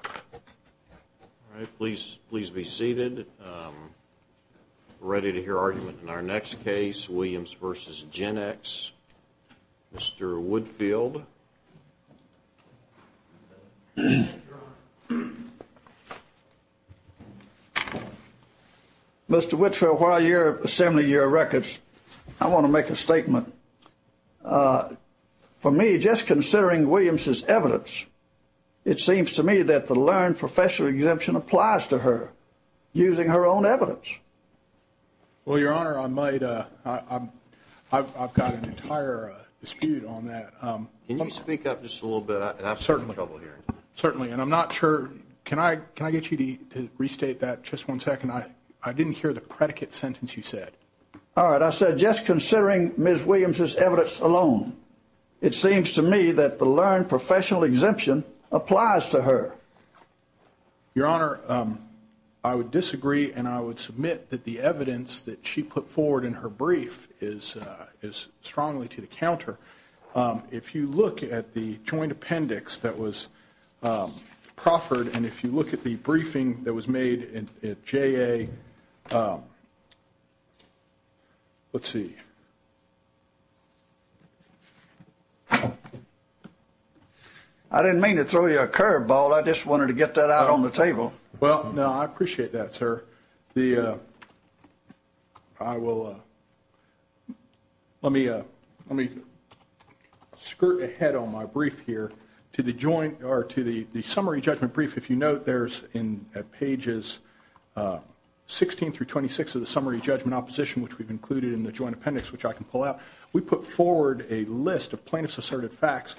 All right, please be seated. We're ready to hear argument in our next case, Williams v. Genex. Mr. Woodfield. Mr. Woodfield, while you're assembling your records, I want to make a statement. For me, just considering Williams' evidence, it seems to me that the learned professional exemption applies to her, using her own evidence. Well, Your Honor, I've got an entire dispute on that. Can you speak up just a little bit? I'm in trouble here. Certainly, and I'm not sure. Can I get you to restate that just one second? I didn't hear the predicate sentence you said. All right, I said just considering Ms. Williams' evidence alone, it seems to me that the learned professional exemption applies to her. Your Honor, I would disagree, and I would submit that the evidence that she put forward in her brief is strongly to the counter. If you look at the joint appendix that was proffered, and if you look at the briefing that was made at JA, let's see. I didn't mean to throw you a curveball. I just wanted to get that out on the table. Well, no, I appreciate that, sir. Let me skirt ahead on my brief here. To the summary judgment brief, if you note, there's pages 16 through 26 of the summary judgment opposition, which we've included in the joint appendix, which I can pull out. We put forward a list of plaintiff's asserted facts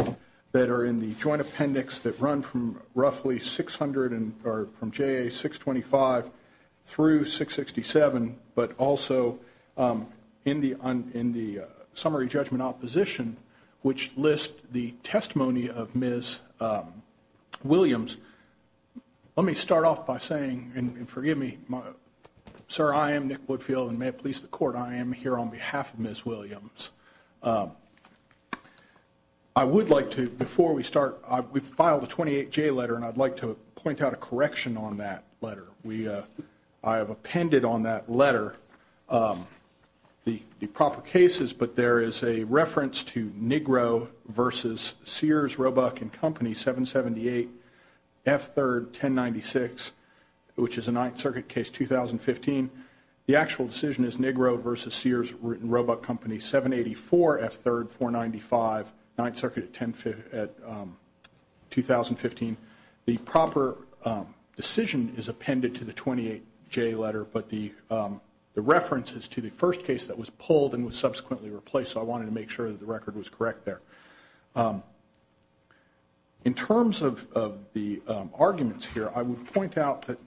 that are in the joint appendix that run from roughly 600, or from JA 625 through 667, but also in the summary judgment opposition, which lists the testimony of Ms. Williams. Let me start off by saying, and forgive me, sir, I am Nick Woodfield, and may it please the court, I am here on behalf of Ms. Williams. I would like to, before we start, we filed a 28-J letter, and I'd like to point out a correction on that letter. I have appended on that letter the proper cases, but there is a reference to Negro versus Sears, Roebuck & Company, 778, F3rd, 1096, which is a Ninth Circuit case, 2015. The actual decision is Negro versus Sears, Roebuck & Company, 784, F3rd, 495, Ninth Circuit, 2015. The proper decision is appended to the 28-J letter, but the reference is to the first case that was pulled and was subsequently replaced, so I wanted to make sure that the record was correct there. In terms of the arguments here, I would point out that...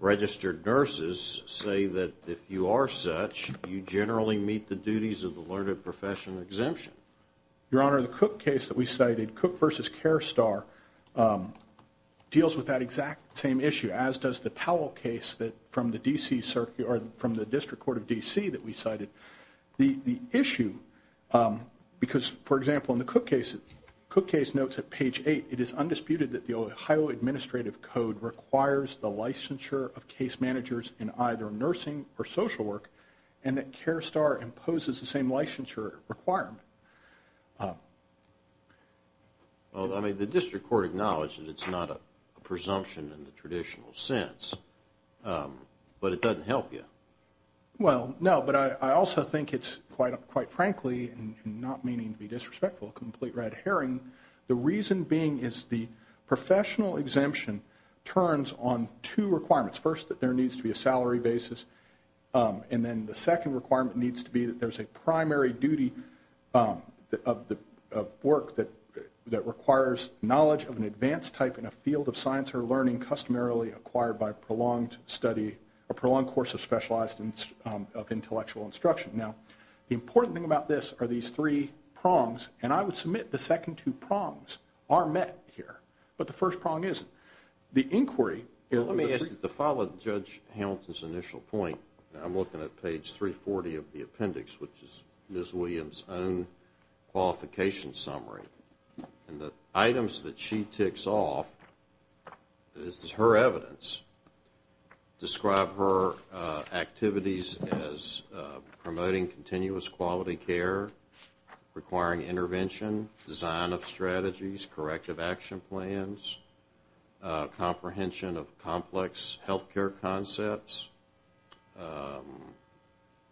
...registered nurses say that if you are such, you generally meet the duties of the Learned Profession Exemption. Your Honor, the Cook case that we cited, Cook versus Care Star, deals with that exact same issue, as does the Powell case from the District Court of D.C. that we cited. The issue, because, for example, in the Cook case, Cook case notes at page 8, it is undisputed that the Ohio Administrative Code requires the licensure of case managers in either nursing or social work, and that Care Star imposes the same licensure requirement. Well, I mean, the District Court acknowledged that it's not a presumption in the traditional sense, but it doesn't help you. Well, no, but I also think it's, quite frankly, and not meaning to be disrespectful, a complete red herring, the reason being is the professional exemption turns on two requirements. First, that there needs to be a salary basis, and then the second requirement needs to be that there's a primary duty of work that requires knowledge of an advanced type in a field of science or learning customarily acquired by a prolonged study, as opposed to specialized of intellectual instruction. Now, the important thing about this are these three prongs, and I would submit the second two prongs are met here, but the first prong isn't. Let me ask you to follow Judge Hamilton's initial point. I'm looking at page 340 of the appendix, which is Ms. Williams' own qualification summary, and the items that she ticks off, this is her evidence, describe her activities as promoting continuous quality care, requiring intervention, design of strategies, corrective action plans, comprehension of complex health care concepts,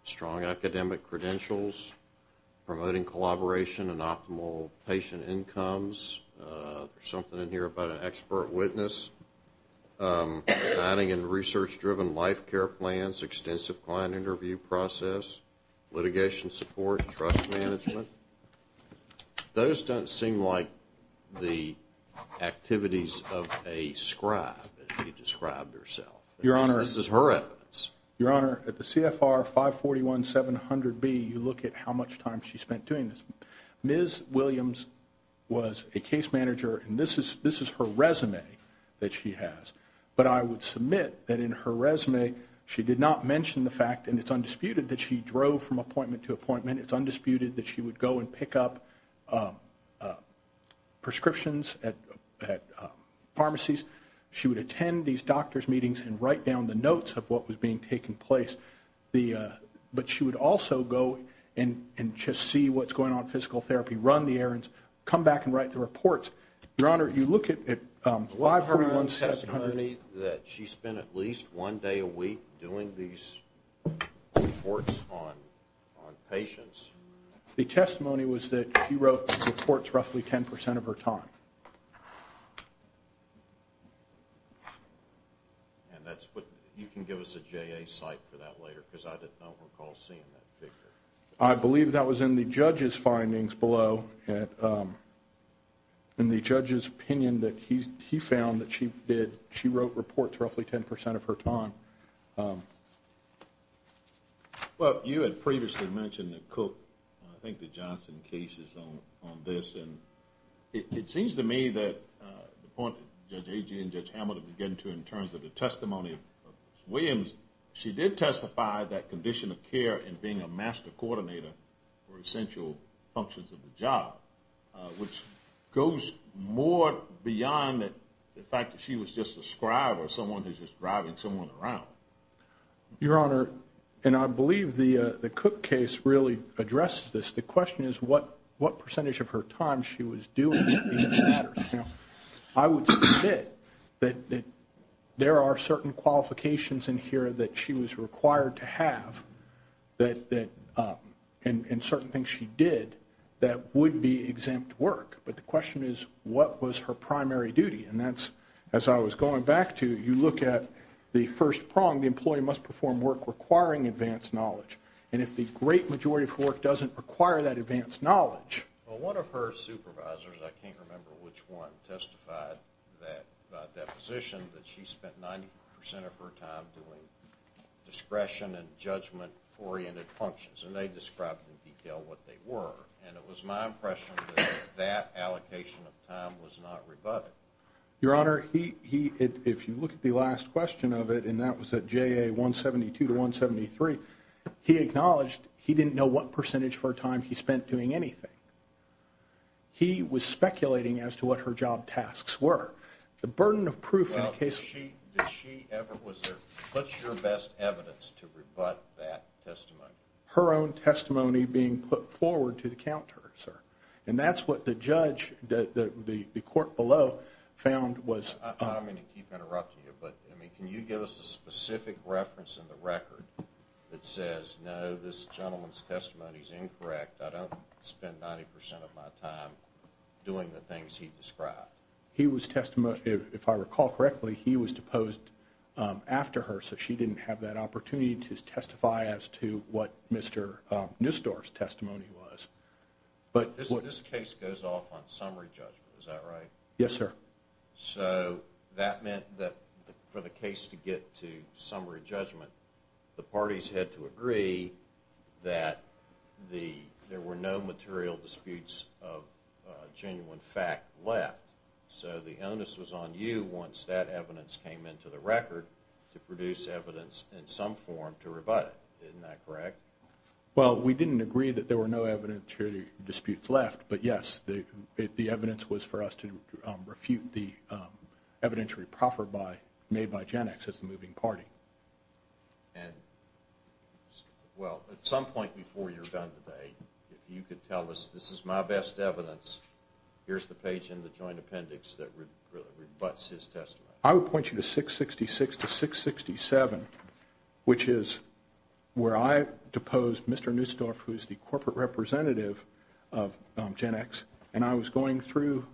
strong academic credentials, promoting collaboration and optimal patient incomes. There's something in here about an expert witness. Designing and research-driven life care plans, extensive client interview process, litigation support, trust management. Those don't seem like the activities of a scribe, as you described yourself. Your Honor. This is her evidence. Your Honor, at the CFR 541-700B, you look at how much time she spent doing this. Ms. Williams was a case manager, and this is her resume that she has. But I would submit that in her resume, she did not mention the fact, and it's undisputed, that she drove from appointment to appointment. It's undisputed that she would go and pick up prescriptions at pharmacies. She would attend these doctors' meetings and write down the notes of what was being taken place. But she would also go and just see what's going on in physical therapy, run the errands, come back and write the reports. Your Honor, you look at 541-700. The testimony that she spent at least one day a week doing these reports on patients. The testimony was that she wrote reports roughly 10 percent of her time. And that's what you can give us a JA site for that later, because I don't recall seeing that picture. I believe that was in the judge's findings below, in the judge's opinion that he found that she wrote reports roughly 10 percent of her time. Well, you had previously mentioned that Cook, I think the Johnson case is on this. And it seems to me that the point that Judge Agee and Judge Hamilton were getting to in terms of the testimony of Ms. Williams, she did testify that condition of care and being a master coordinator were essential functions of the job, which goes more beyond the fact that she was just a scribe or someone who's just driving someone around. Your Honor, and I believe the Cook case really addresses this. The question is what percentage of her time she was doing these matters. I would submit that there are certain qualifications in here that she was required to have and certain things she did that would be exempt work. But the question is what was her primary duty. And that's, as I was going back to, you look at the first prong, the employee must perform work requiring advanced knowledge. And if the great majority of work doesn't require that advanced knowledge. Well, one of her supervisors, I can't remember which one, testified that position that she spent 90 percent of her time doing discretion and judgment-oriented functions. And they described in detail what they were. And it was my impression that that allocation of time was not rebutted. Your Honor, if you look at the last question of it, and that was at JA 172 to 173, he acknowledged he didn't know what percentage of her time he spent doing anything. He was speculating as to what her job tasks were. The burden of proof in a case. Well, did she ever, was there, what's your best evidence to rebut that testimony? Her own testimony being put forward to the counter, sir. And that's what the judge, the court below, found was. I don't mean to keep interrupting you, but can you give us a specific reference in the record that says, no, this gentleman's testimony is incorrect. I don't spend 90 percent of my time doing the things he described. He was, if I recall correctly, he was deposed after her, so she didn't have that opportunity to testify as to what Mr. Nussdorf's testimony was. This case goes off on summary judgment, is that right? Yes, sir. So that meant that for the case to get to summary judgment, the parties had to agree that there were no material disputes of genuine fact left. So the onus was on you, once that evidence came into the record, to produce evidence in some form to rebut it. Isn't that correct? Well, we didn't agree that there were no evidentiary disputes left, but yes, the evidence was for us to refute the evidentiary proffer made by GenX as the moving party. And, well, at some point before you're done today, if you could tell us this is my best evidence, here's the page in the joint appendix that really rebuts his testimony. I would point you to 666 to 667, which is where I deposed Mr. Nussdorf, who is the corporate representative of GenX, and I was going through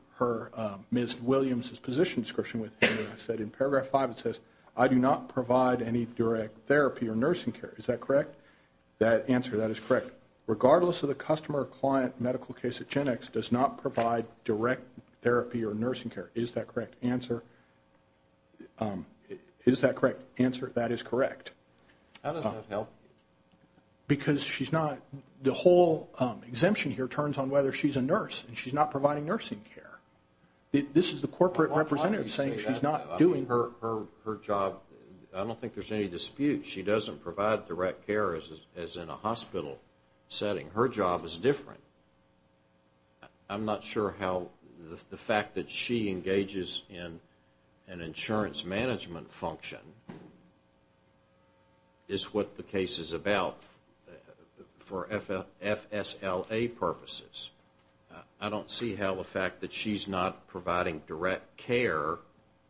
Ms. Williams' position description with her. I said in paragraph 5 it says, I do not provide any direct therapy or nursing care. Is that correct? That answer, that is correct. Regardless of the customer or client medical case at GenX does not provide direct therapy or nursing care. Is that correct answer? Is that correct answer? That is correct. How does that help? Because she's not, the whole exemption here turns on whether she's a nurse, and she's not providing nursing care. This is the corporate representative saying she's not doing. Her job, I don't think there's any dispute. She doesn't provide direct care as in a hospital setting. Her job is different. I'm not sure how the fact that she engages in an insurance management function is what the case is about for FSLA purposes. I don't see how the fact that she's not providing direct care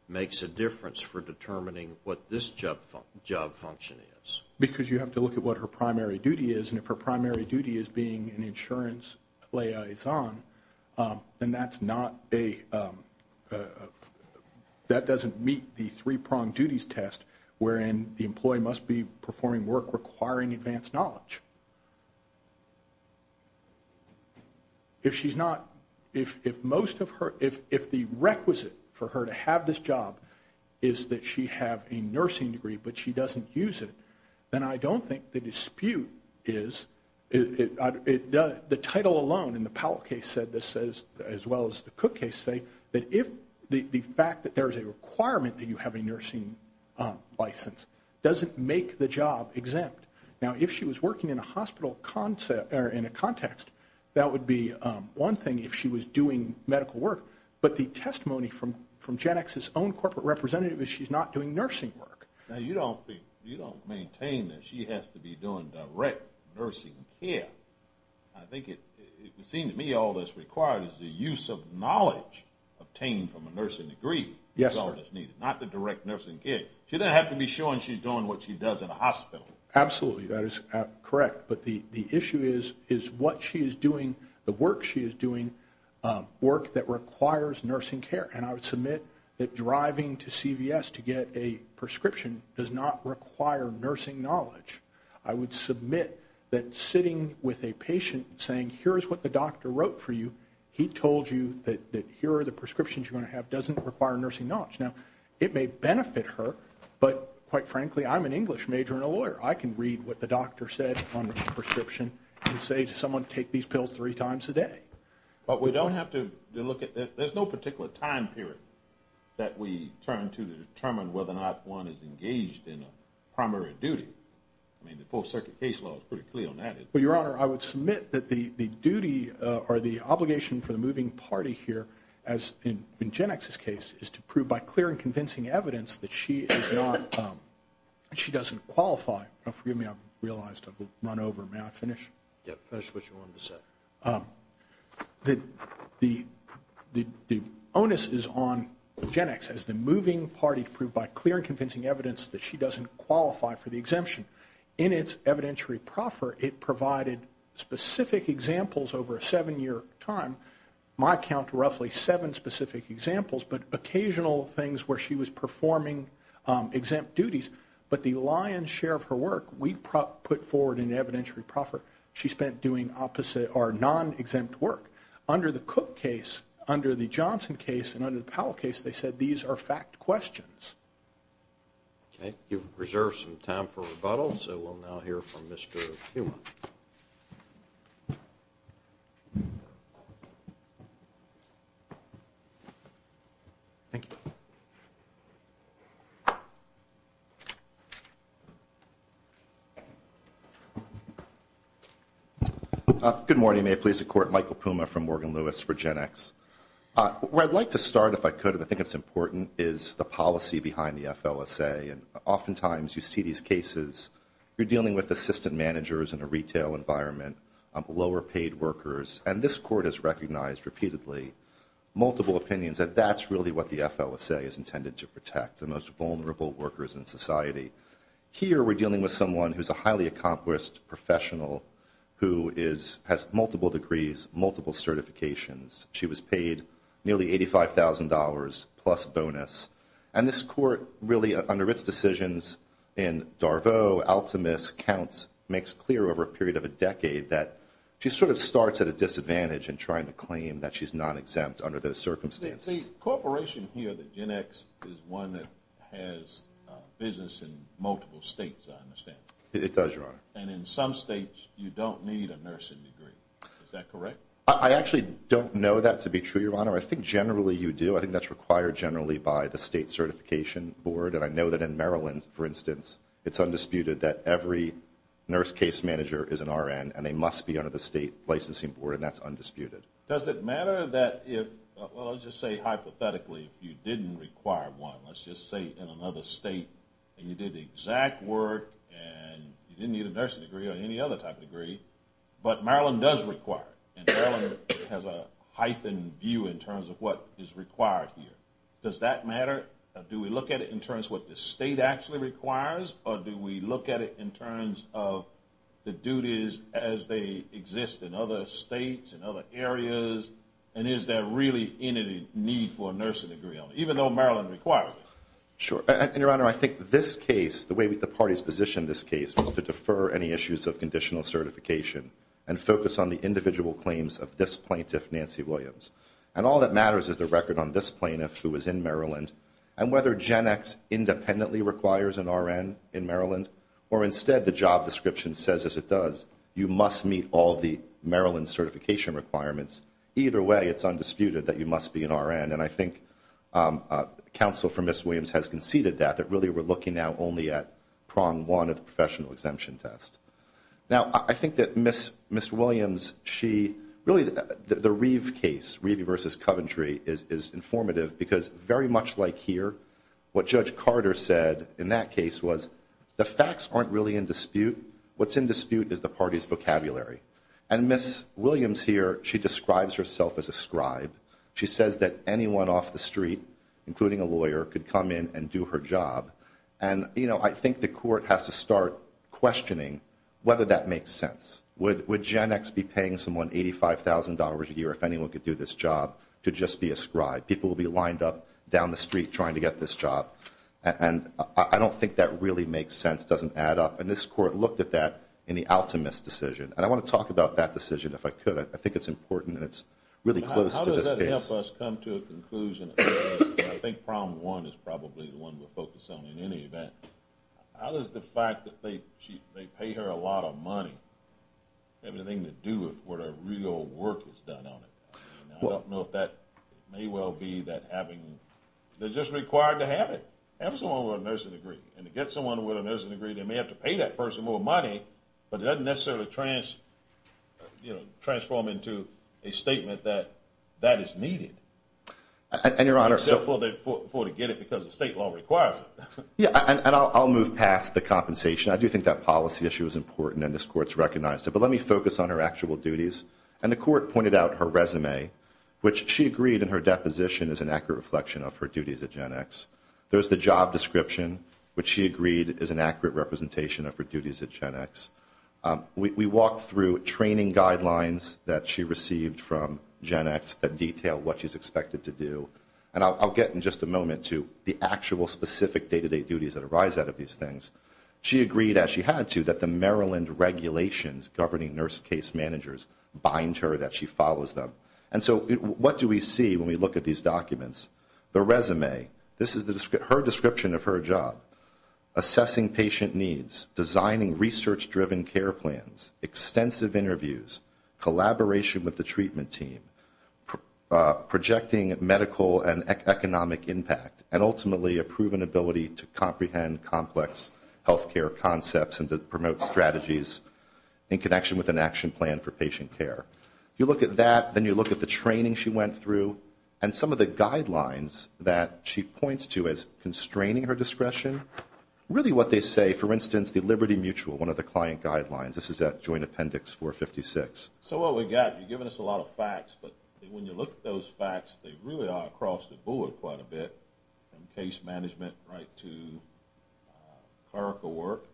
makes a difference for determining what this job function is. Because you have to look at what her primary duty is, and if her primary duty is being an insurance liaison, then that's not a, that doesn't meet the three-pronged duties test, wherein the employee must be performing work requiring advanced knowledge. If she's not, if most of her, if the requisite for her to have this job is that she have a nursing degree but she doesn't use it, then I don't think the dispute is, the title alone, and the Powell case said this as well as the Cook case say, that if the fact that there is a requirement that you have a nursing license doesn't make the job exempt. Now, if she was working in a hospital concept, or in a context, that would be one thing if she was doing medical work. But the testimony from GenX's own corporate representative is she's not doing nursing work. Now, you don't maintain that she has to be doing direct nursing care. I think it seems to me all that's required is the use of knowledge obtained from a nursing degree. Yes, sir. That's all that's needed, not the direct nursing care. She doesn't have to be showing she's doing what she does in a hospital. Absolutely, that is correct. But the issue is what she is doing, the work she is doing, work that requires nursing care. And I would submit that driving to CVS to get a prescription does not require nursing knowledge. I would submit that sitting with a patient saying, here's what the doctor wrote for you, he told you that here are the prescriptions you're going to have doesn't require nursing knowledge. Now, it may benefit her, but quite frankly, I'm an English major and a lawyer. I can read what the doctor said on the prescription and say to someone, take these pills three times a day. But we don't have to look at that. There's no particular time period that we turn to determine whether or not one is engaged in a primary duty. I mean, the full circuit case law is pretty clear on that. Well, Your Honor, I would submit that the duty or the obligation for the moving party here, as in GenX's case, is to prove by clear and convincing evidence that she is not, she doesn't qualify. Forgive me, I've realized I've run over. May I finish? Yeah, finish what you wanted to say. The onus is on GenX as the moving party to prove by clear and convincing evidence that she doesn't qualify for the exemption. In its evidentiary proffer, it provided specific examples over a seven-year time. My count, roughly seven specific examples, but occasional things where she was performing exempt duties. But the lion's share of her work we put forward in evidentiary proffer, she spent doing opposite or non-exempt work. Under the Cook case, under the Johnson case, and under the Powell case, they said these are fact questions. Okay. You've reserved some time for rebuttal, so we'll now hear from Mr. Puma. Thank you. Good morning. May it please the Court, Michael Puma from Morgan Lewis for GenX. Where I'd like to start, if I could, and I think it's important, is the policy behind the FLSA. And oftentimes you see these cases, you're dealing with assistant managers in a retail environment, lower paid workers. And this Court has recognized repeatedly multiple opinions that that's really what the FLSA is intended to protect, the most vulnerable workers in society. Here we're dealing with someone who's a highly accomplished professional who has multiple degrees, multiple certifications. She was paid nearly $85,000 plus bonus. And this Court really, under its decisions in Darvaux, Altamus, Counts, makes clear over a period of a decade that she sort of starts at a disadvantage in trying to claim that she's non-exempt under those circumstances. The corporation here, the GenX, is one that has business in multiple states, I understand. It does, Your Honor. And in some states, you don't need a nursing degree. Is that correct? I actually don't know that to be true, Your Honor. I think generally you do. I think that's required generally by the state certification board. And I know that in Maryland, for instance, it's undisputed that every nurse case manager is an RN, and they must be under the state licensing board, and that's undisputed. Does it matter that if, well, let's just say hypothetically, if you didn't require one, let's just say in another state, and you did the exact work, and you didn't need a nursing degree or any other type of degree, but Maryland does require it, and Maryland has a heightened view in terms of what is required here. Does that matter? Do we look at it in terms of what the state actually requires, or do we look at it in terms of the duties as they exist in other states and other areas, and is there really any need for a nursing degree even though Maryland requires it? Sure. And, Your Honor, I think this case, the way the parties positioned this case, was to defer any issues of conditional certification and focus on the individual claims of this plaintiff, Nancy Williams. And all that matters is the record on this plaintiff who is in Maryland and whether GenX independently requires an RN in Maryland, or instead the job description says as it does, you must meet all the Maryland certification requirements. Either way, it's undisputed that you must be an RN, and I think counsel for Ms. Williams has conceded that, that really we're looking now only at prong one of the professional exemption test. Now, I think that Ms. Williams, she really, the Reeve case, Reeve v. Coventry, is informative because very much like here, what Judge Carter said in that case was, the facts aren't really in dispute. What's in dispute is the party's vocabulary. And Ms. Williams here, she describes herself as a scribe. She says that anyone off the street, including a lawyer, could come in and do her job. And, you know, I think the court has to start questioning whether that makes sense. Would GenX be paying someone $85,000 a year if anyone could do this job to just be a scribe? People would be lined up down the street trying to get this job. And I don't think that really makes sense, doesn't add up. And this court looked at that in the Altamus decision. And I want to talk about that decision if I could. But I think it's important and it's really close to this case. How does that help us come to a conclusion? I think problem one is probably the one we'll focus on in any event. How does the fact that they pay her a lot of money have anything to do with what her real work has done on it? I don't know if that may well be that having, they're just required to have it, have someone with a nursing degree. And to get someone with a nursing degree, they may have to pay that person more money, but it doesn't necessarily transform into a statement that that is needed. And, Your Honor. Except for to get it because the state law requires it. Yeah, and I'll move past the compensation. I do think that policy issue is important and this court's recognized it. But let me focus on her actual duties. And the court pointed out her resume, which she agreed in her deposition is an accurate reflection of her duties at GenX. There's the job description, which she agreed is an accurate representation of her duties at GenX. We walked through training guidelines that she received from GenX that detail what she's expected to do. And I'll get in just a moment to the actual specific day-to-day duties that arise out of these things. She agreed, as she had to, that the Maryland regulations governing nurse case managers bind her that she follows them. And so what do we see when we look at these documents? The resume. This is her description of her job. Assessing patient needs. Designing research-driven care plans. Extensive interviews. Collaboration with the treatment team. Projecting medical and economic impact. And, ultimately, a proven ability to comprehend complex health care concepts and to promote strategies in connection with an action plan for patient care. You look at that, then you look at the training she went through. And some of the guidelines that she points to as constraining her discretion. Really what they say, for instance, the Liberty Mutual, one of the client guidelines. This is at Joint Appendix 456. So what we've got, you've given us a lot of facts, but when you look at those facts, they really are across the board quite a bit, from case management right to clerical work.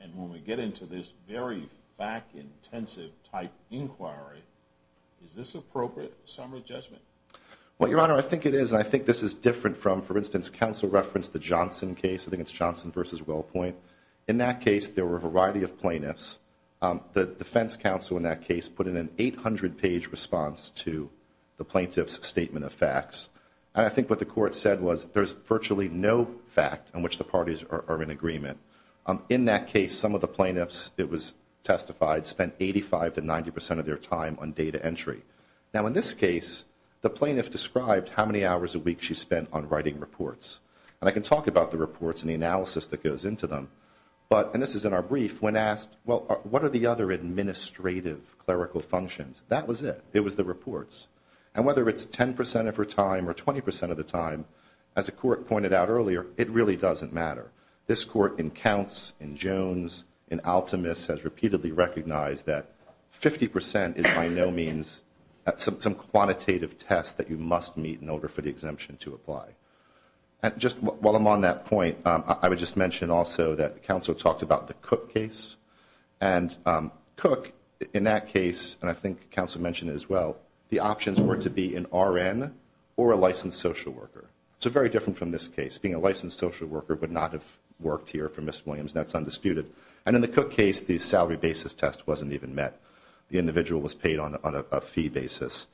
And when we get into this very fact-intensive type inquiry, is this appropriate summary judgment? Well, Your Honor, I think it is, and I think this is different from, for instance, counsel referenced the Johnson case. I think it's Johnson v. Wellpoint. In that case, there were a variety of plaintiffs. The defense counsel in that case put in an 800-page response to the plaintiff's statement of facts. And I think what the court said was there's virtually no fact in which the parties are in agreement. In that case, some of the plaintiffs, it was testified, spent 85 to 90 percent of their time on data entry. Now, in this case, the plaintiff described how many hours a week she spent on writing reports. And I can talk about the reports and the analysis that goes into them. But, and this is in our brief, when asked, well, what are the other administrative clerical functions? That was it. It was the reports. And whether it's 10 percent of her time or 20 percent of the time, as the court pointed out earlier, it really doesn't matter. This court in Counts, in Jones, in Altamus has repeatedly recognized that 50 percent is by no means some quantitative test that you must meet in order for the exemption to apply. And just while I'm on that point, I would just mention also that the counsel talked about the Cook case. And Cook, in that case, and I think counsel mentioned it as well, the options were to be an RN or a licensed social worker. So very different from this case. Being a licensed social worker would not have worked here for Ms. Williams. That's undisputed. And in the Cook case, the salary basis test wasn't even met. The individual was paid on a fee basis.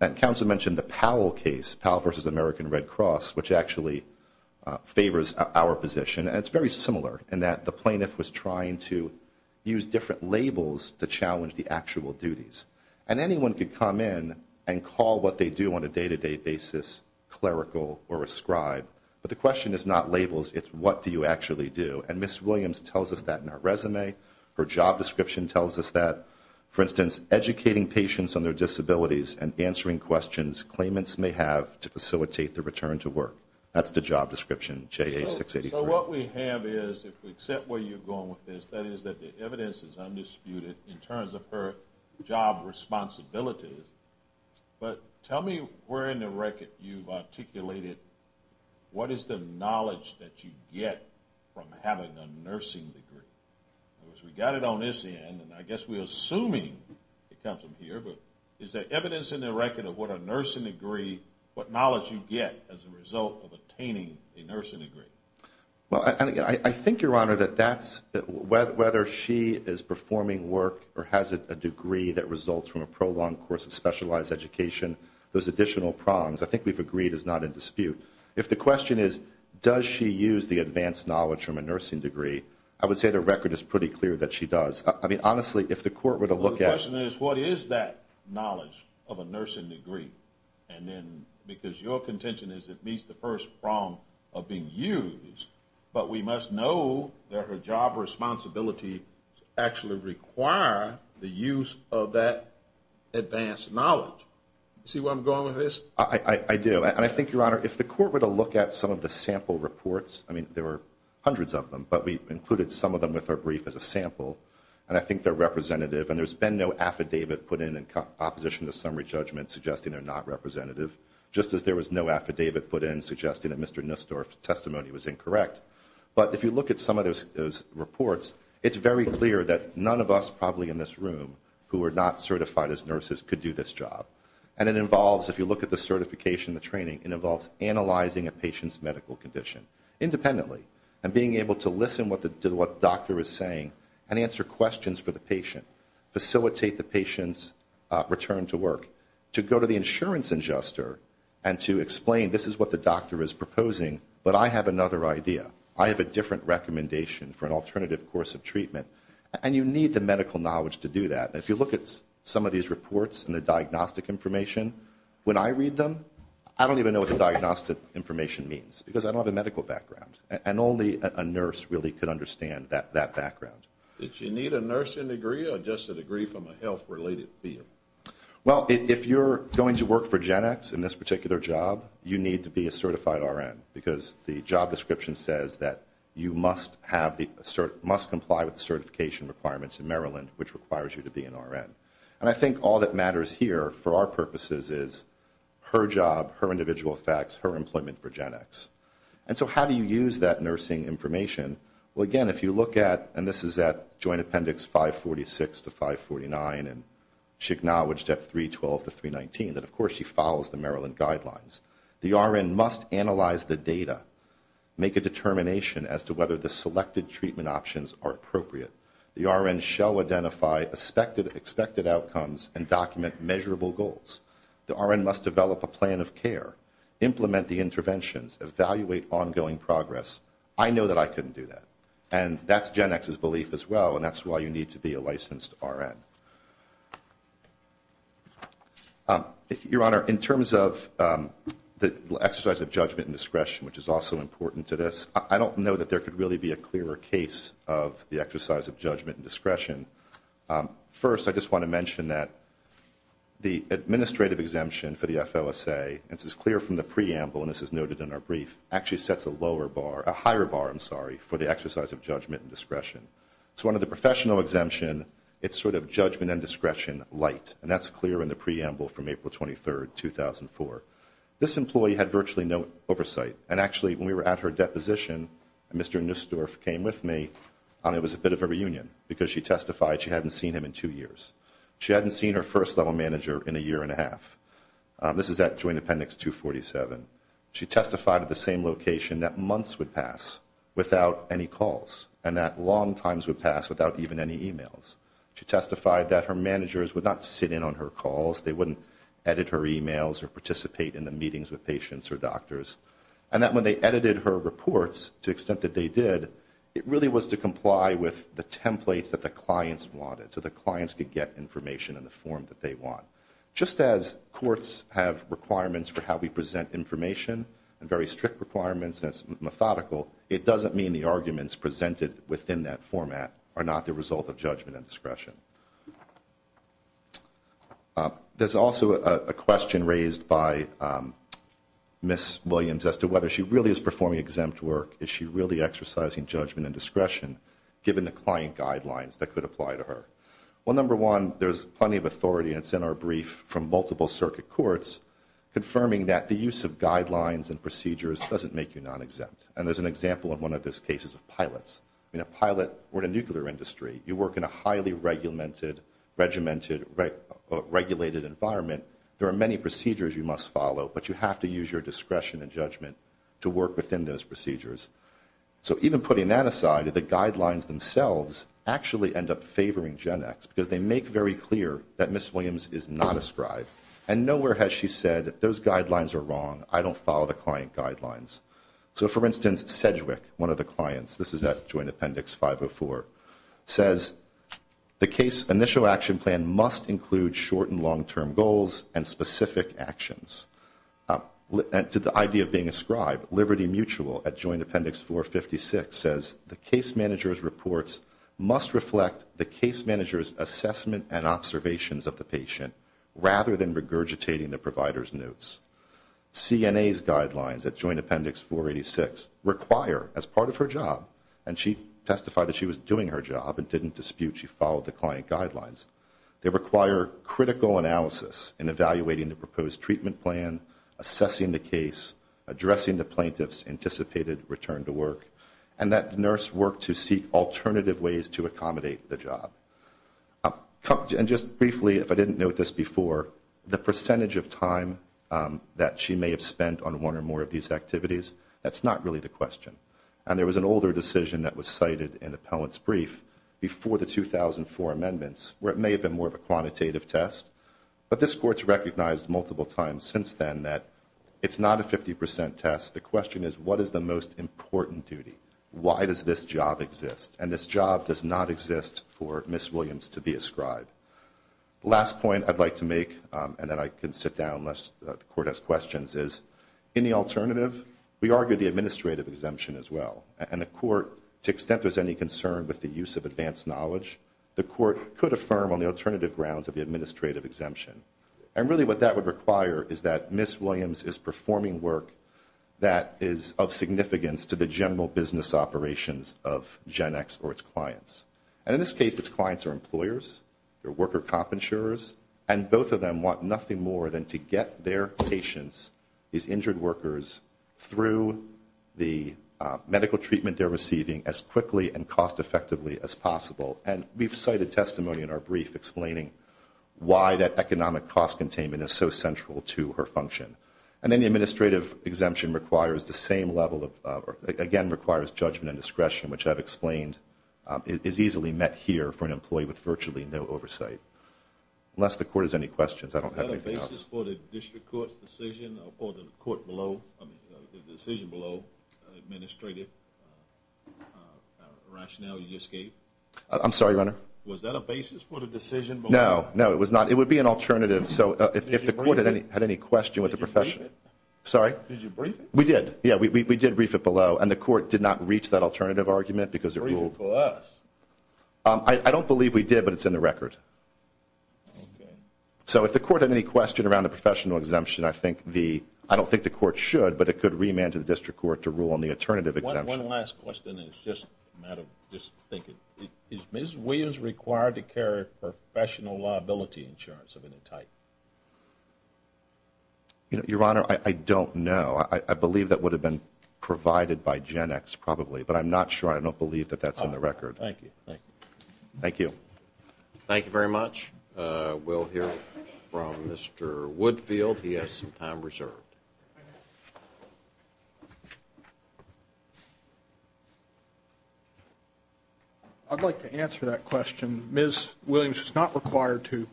And counsel mentioned the Powell case, Powell versus American Red Cross, which actually favors our position. And it's very similar in that the plaintiff was trying to use different labels to challenge the actual duties. And anyone could come in and call what they do on a day-to-day basis clerical or a scribe. But the question is not labels. It's what do you actually do. And Ms. Williams tells us that in her resume. Her job description tells us that, for instance, educating patients on their disabilities and answering questions claimants may have to facilitate the return to work. That's the job description, JA 683. So what we have is, if we accept where you're going with this, that is that the evidence is undisputed in terms of her job responsibilities. But tell me where in the record you've articulated what is the knowledge that you get from having a nursing degree. Because we got it on this end, and I guess we're assuming it comes from here. But is there evidence in the record of what a nursing degree, what knowledge you get as a result of attaining a nursing degree? Well, I think, Your Honor, that that's whether she is performing work or has a degree that results from a prolonged course of specialized education, those additional prongs, I think we've agreed is not in dispute. If the question is does she use the advanced knowledge from a nursing degree, I would say the record is pretty clear that she does. I mean, honestly, if the court were to look at it. The question is what is that knowledge of a nursing degree? And then because your contention is it meets the first prong of being used, but we must know that her job responsibilities actually require the use of that advanced knowledge. See where I'm going with this? I do. And I think, Your Honor, if the court were to look at some of the sample reports, I mean, there were hundreds of them, but we included some of them with our brief as a sample, and I think they're representative. And there's been no affidavit put in in opposition to summary judgment suggesting they're not representative, just as there was no affidavit put in suggesting that Mr. Nussdorf's testimony was incorrect. But if you look at some of those reports, it's very clear that none of us probably in this room who are not certified as nurses could do this job. And it involves, if you look at the certification, the training, it involves analyzing a patient's medical condition independently and being able to listen to what the doctor is saying and answer questions for the patient, facilitate the patient's return to work, to go to the insurance adjuster and to explain this is what the doctor is proposing, but I have another idea. I have a different recommendation for an alternative course of treatment. And you need the medical knowledge to do that. And if you look at some of these reports and the diagnostic information, when I read them, I don't even know what the diagnostic information means because I don't have a medical background. And only a nurse really could understand that background. Did she need a nursing degree or just a degree from a health-related field? Well, if you're going to work for GenX in this particular job, you need to be a certified RN because the job description says that you must comply with the certification requirements in Maryland, which requires you to be an RN. And I think all that matters here for our purposes is her job, her individual effects, her employment for GenX. And so how do you use that nursing information? Well, again, if you look at, and this is at Joint Appendix 546 to 549, and she acknowledged at 312 to 319 that, of course, she follows the Maryland guidelines. The RN must analyze the data, make a determination as to whether the selected treatment options are appropriate. The RN shall identify expected outcomes and document measurable goals. The RN must develop a plan of care, implement the interventions, evaluate ongoing progress. I know that I couldn't do that. And that's GenX's belief as well, and that's why you need to be a licensed RN. Your Honor, in terms of the exercise of judgment and discretion, which is also important to this, I don't know that there could really be a clearer case of the exercise of judgment and discretion. First, I just want to mention that the administrative exemption for the FLSA, and this is clear from the preamble, and this is noted in our brief, actually sets a lower bar, a higher bar, I'm sorry, for the exercise of judgment and discretion. So under the professional exemption, it's sort of judgment and discretion light, and that's clear in the preamble from April 23, 2004. This employee had virtually no oversight. And actually, when we were at her deposition, Mr. Nussdorf came with me, and it was a bit of a reunion because she testified she hadn't seen him in two years. She hadn't seen her first-level manager in a year and a half. This is at Joint Appendix 247. She testified at the same location that months would pass without any calls and that long times would pass without even any e-mails. She testified that her managers would not sit in on her calls, they wouldn't edit her e-mails or participate in the meetings with patients or doctors, and that when they edited her reports to the extent that they did, it really was to comply with the templates that the clients wanted so the clients could get information in the form that they want. Just as courts have requirements for how we present information and very strict requirements that's methodical, it doesn't mean the arguments presented within that format are not the result of judgment and discretion. There's also a question raised by Ms. Williams as to whether she really is performing exempt work. Is she really exercising judgment and discretion given the client guidelines that could apply to her? Well, number one, there's plenty of authority, and it's in our brief from multiple circuit courts, confirming that the use of guidelines and procedures doesn't make you non-exempt. And there's an example in one of those cases of pilots. In a pilot or in a nuclear industry, you work in a highly regimented, regulated environment. There are many procedures you must follow, but you have to use your discretion and judgment to work within those procedures. So even putting that aside, the guidelines themselves actually end up favoring Gen X because they make very clear that Ms. Williams is not a scribe. And nowhere has she said, those guidelines are wrong, I don't follow the client guidelines. So, for instance, Sedgwick, one of the clients, this is at Joint Appendix 504, says the case initial action plan must include short and long-term goals and specific actions. To the idea of being a scribe, Liberty Mutual at Joint Appendix 456 says, the case manager's reports must reflect the case manager's assessment and observations of the patient rather than regurgitating the provider's notes. CNA's guidelines at Joint Appendix 486 require, as part of her job, and she testified that she was doing her job and didn't dispute she followed the client guidelines, they require critical analysis in evaluating the proposed treatment plan, assessing the case, addressing the plaintiff's anticipated return to work, and that the nurse work to seek alternative ways to accommodate the job. And just briefly, if I didn't note this before, the percentage of time that she may have spent on one or more of these activities, that's not really the question. And there was an older decision that was cited in appellant's brief before the 2004 amendments where it may have been more of a quantitative test, but this court's recognized multiple times since then that it's not a 50% test. The question is, what is the most important duty? Why does this job exist? And this job does not exist for Ms. Williams to be a scribe. Last point I'd like to make, and then I can sit down unless the court has questions, is in the alternative, we argue the administrative exemption as well. And the court, to the extent there's any concern with the use of advanced knowledge, the court could affirm on the alternative grounds of the administrative exemption. And really what that would require is that Ms. Williams is performing work that is of significance to the general business operations of GenX or its clients. And in this case, its clients are employers, they're worker comp insurers, and both of them want nothing more than to get their patients, these injured workers, through the medical treatment they're receiving as quickly and cost-effectively as possible. And we've cited testimony in our brief explaining why that economic cost containment is so central to her function. And then the administrative exemption requires the same level of, again, requires judgment and discretion, which I've explained is easily met here for an employee with virtually no oversight. Unless the court has any questions, I don't have anything else. Was that a basis for the district court's decision or for the court below, I mean the decision below, administrative rationale you just gave? I'm sorry, Your Honor? Was that a basis for the decision below? No, no, it was not. It would be an alternative. So if the court had any question with the profession. Did you brief it? Sorry? Did you brief it? We did. Yeah, we did brief it below. And the court did not reach that alternative argument because it ruled. Brief it for us. I don't believe we did, but it's in the record. So if the court had any question around the professional exemption, I don't think the court should, but it could remand to the district court to rule on the alternative exemption. One last question, and it's just a matter of just thinking. Is Ms. Williams required to carry professional liability insurance of any type? Your Honor, I don't know. I believe that would have been provided by Gen X probably, but I'm not sure. I don't believe that that's in the record. Thank you. Thank you. Thank you very much. We'll hear from Mr. Woodfield. He has some time reserved. I'd like to answer that question. Ms. Williams is not required to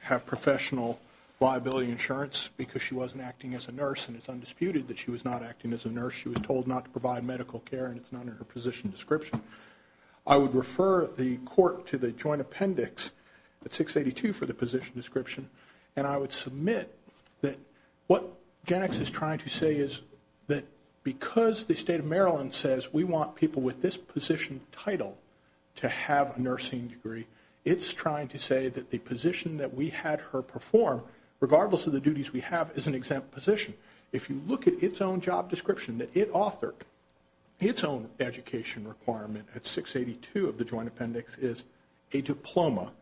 have professional liability insurance because she wasn't acting as a nurse and it's undisputed that she was not acting as a nurse. She was told not to provide medical care, and it's not in her position description. I would refer the court to the joint appendix at 682 for the position description, and I would submit that what Gen X is trying to say is that because the state of Maryland says we want people with this position title to have a nursing degree, it's trying to say that the position that we had her perform, regardless of the duties we have, is an exempt position. If you look at its own job description that it authored, its own education requirement at 682 of the joint appendix is a diploma,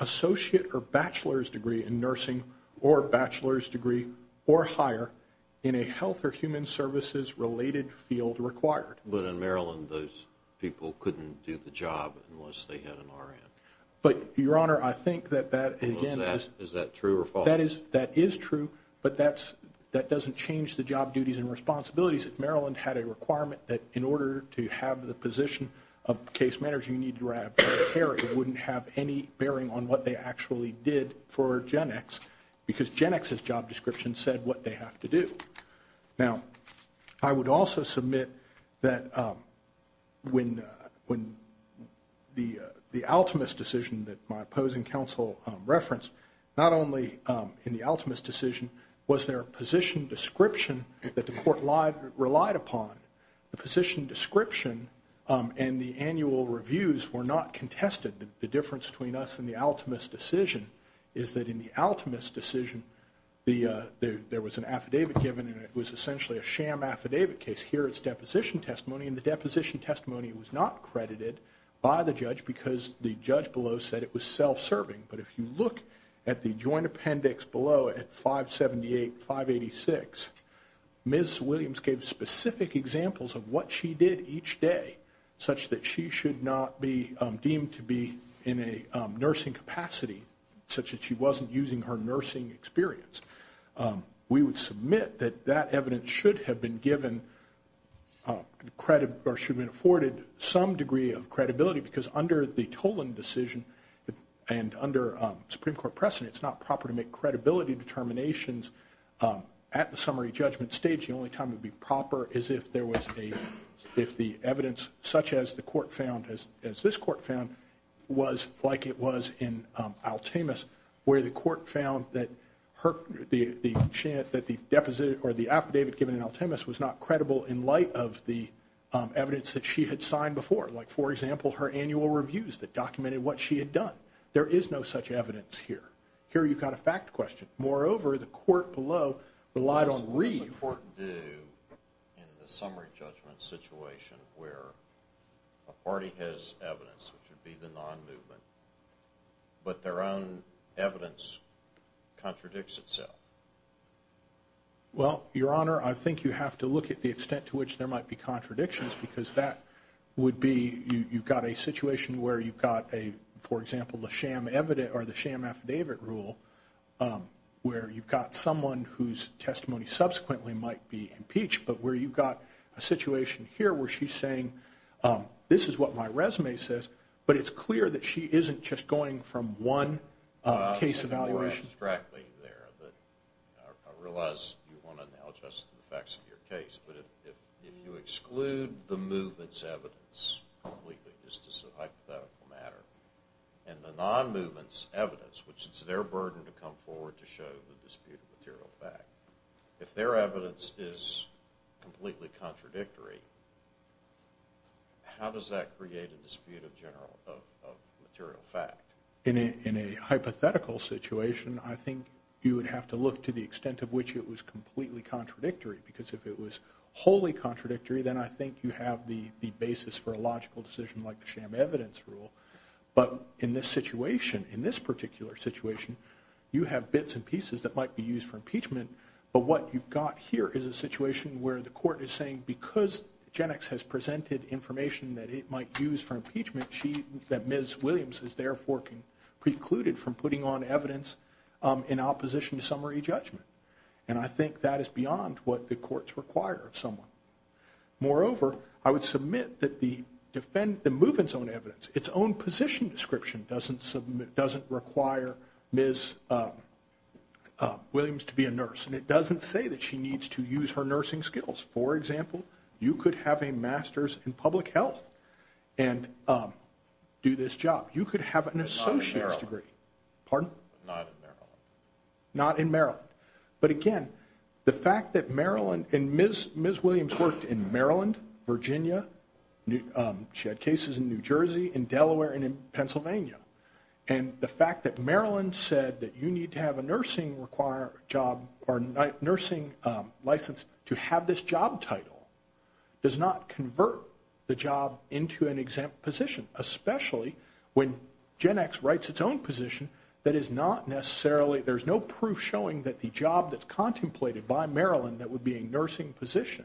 associate or bachelor's degree in nursing or bachelor's degree or higher in a health or human services-related field required. But in Maryland, those people couldn't do the job unless they had an RN. But, Your Honor, I think that that, again – Is that true or false? That is true, but that doesn't change the job duties and responsibilities. Maryland had a requirement that in order to have the position of case manager, you need to have hair. It wouldn't have any bearing on what they actually did for Gen X because Gen X's job description said what they have to do. Now, I would also submit that when the Altamus decision that my opposing counsel referenced, not only in the Altamus decision was there a position description that the court relied upon. The position description and the annual reviews were not contested. The difference between us and the Altamus decision is that in the Altamus decision, there was an affidavit given, and it was essentially a sham affidavit case. Here it's deposition testimony, and the deposition testimony was not credited by the judge because the judge below said it was self-serving. But if you look at the joint appendix below at 578, 586, Ms. Williams gave specific examples of what she did each day, such that she should not be deemed to be in a nursing capacity, such that she wasn't using her nursing experience. We would submit that that evidence should have been given credit or should have been afforded some degree of credibility because under the Tolan decision and under Supreme Court precedent, it's not proper to make credibility determinations at the summary judgment stage. The only time it would be proper is if the evidence such as the court found, as this court found, was like it was in Altamus, where the court found that the affidavit given in Altamus was not credible in light of the evidence that she had signed before. Like, for example, her annual reviews that documented what she had done. There is no such evidence here. Here you've got a fact question. Moreover, the court below relied on read. What does the court do in the summary judgment situation where a party has evidence, which would be the non-movement, but their own evidence contradicts itself? Well, Your Honor, I think you have to look at the extent to which there might be contradictions because that would be you've got a situation where you've got a, for example, the sham affidavit rule where you've got someone whose testimony subsequently might be impeached, but where you've got a situation here where she's saying, this is what my resume says, but it's clear that she isn't just going from one case evaluation. I realize you want to now adjust to the facts of your case, but if you exclude the movement's evidence completely, just as a hypothetical matter, and the non-movement's evidence, which is their burden to come forward to show the dispute of material fact, if their evidence is completely contradictory, how does that create a dispute of material fact? In a hypothetical situation, I think you would have to look to the extent to which it was completely contradictory because if it was wholly contradictory, then I think you have the basis for a logical decision like the sham evidence rule. But in this situation, in this particular situation, you have bits and pieces that might be used for impeachment, but what you've got here is a situation where the court is saying, because GenX has presented information that it might use for impeachment, that Ms. Williams is therefore precluded from putting on evidence in opposition to summary judgment. And I think that is beyond what the courts require of someone. Moreover, I would submit that the movement's own evidence, its own position description, doesn't require Ms. Williams to be a nurse, and it doesn't say that she needs to use her nursing skills. For example, you could have a master's in public health and do this job. You could have an associate's degree. Not in Maryland. Pardon? Not in Maryland. Not in Maryland. But again, the fact that Maryland and Ms. Williams worked in Maryland, Virginia, she had cases in New Jersey, in Delaware, and in Pennsylvania, and the fact that Maryland said that you need to have a nursing license to have this job title does not convert the job into an exempt position, especially when GenX writes its own position that is not necessarily, there's no proof showing that the job that's contemplated by Maryland that would be a nursing position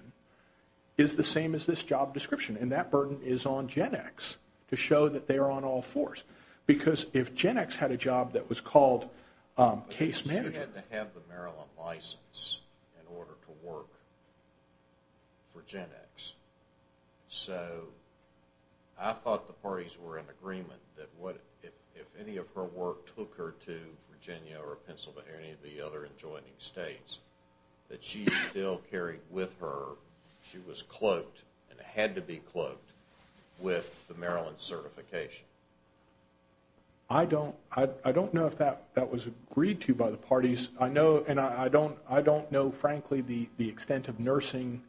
is the same as this job description. And that burden is on GenX to show that they are on all fours. Because if GenX had a job that was called case management. She had to have the Maryland license in order to work for GenX. So I thought the parties were in agreement that if any of her work took her to Virginia or Pennsylvania or any of the other adjoining states, that she still carried with her, she was cloaked and had to be cloaked with the Maryland certification. I don't know if that was agreed to by the parties. And I don't know, frankly, the extent of nursing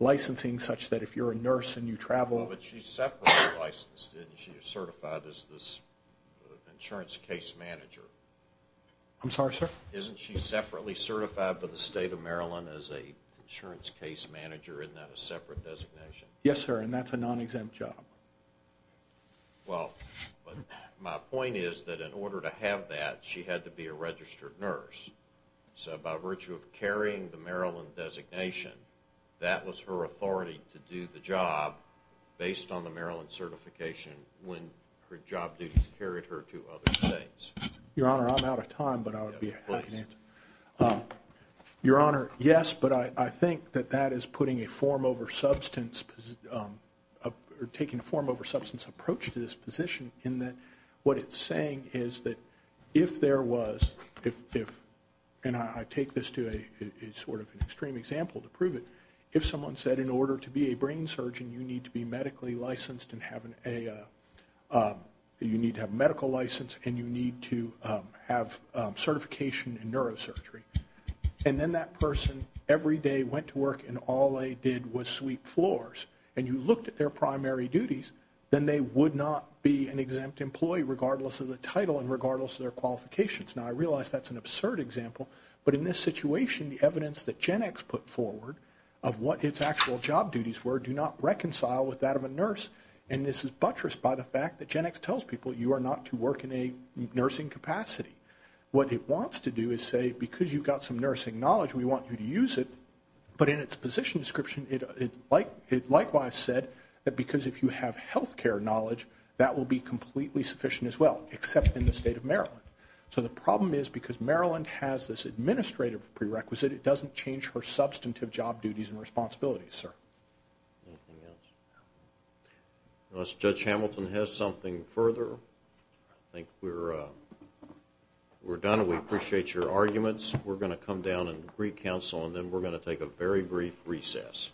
licensing such that if you're a nurse and you travel. But she's separately licensed, isn't she? You're certified as this insurance case manager. I'm sorry, sir? Isn't she separately certified for the state of Maryland as an insurance case manager, isn't that a separate designation? Yes, sir, and that's a non-exempt job. Well, my point is that in order to have that, she had to be a registered nurse. So by virtue of carrying the Maryland designation, that was her authority to do the job based on the Maryland certification when her job duties carried her to other states. Your Honor, I'm out of time, but I would be happy to answer. Please. Your Honor, yes, but I think that that is putting a form over substance or taking a form over substance approach to this position in that what it's saying is that if there was, and I take this to a sort of extreme example to prove it, if someone said in order to be a brain surgeon you need to be medically licensed and have a, you need to have a medical license and you need to have certification in neurosurgery, and then that person every day went to work and all they did was sweep floors and you looked at their primary duties, then they would not be an exempt employee regardless of the title and regardless of their qualifications. Now, I realize that's an absurd example, but in this situation the evidence that GenX put forward of what its actual job duties were do not reconcile with that of a nurse, and this is buttressed by the fact that GenX tells people you are not to work in a nursing capacity. What it wants to do is say because you've got some nursing knowledge we want you to use it, but in its position description it likewise said that because if you have health care knowledge that will be completely sufficient as well except in the state of Maryland. So the problem is because Maryland has this administrative prerequisite, it doesn't change her substantive job duties and responsibilities, sir. Anything else? Unless Judge Hamilton has something further. I think we're done. We appreciate your arguments. We're going to come down and greet counsel, and then we're going to take a very brief recess.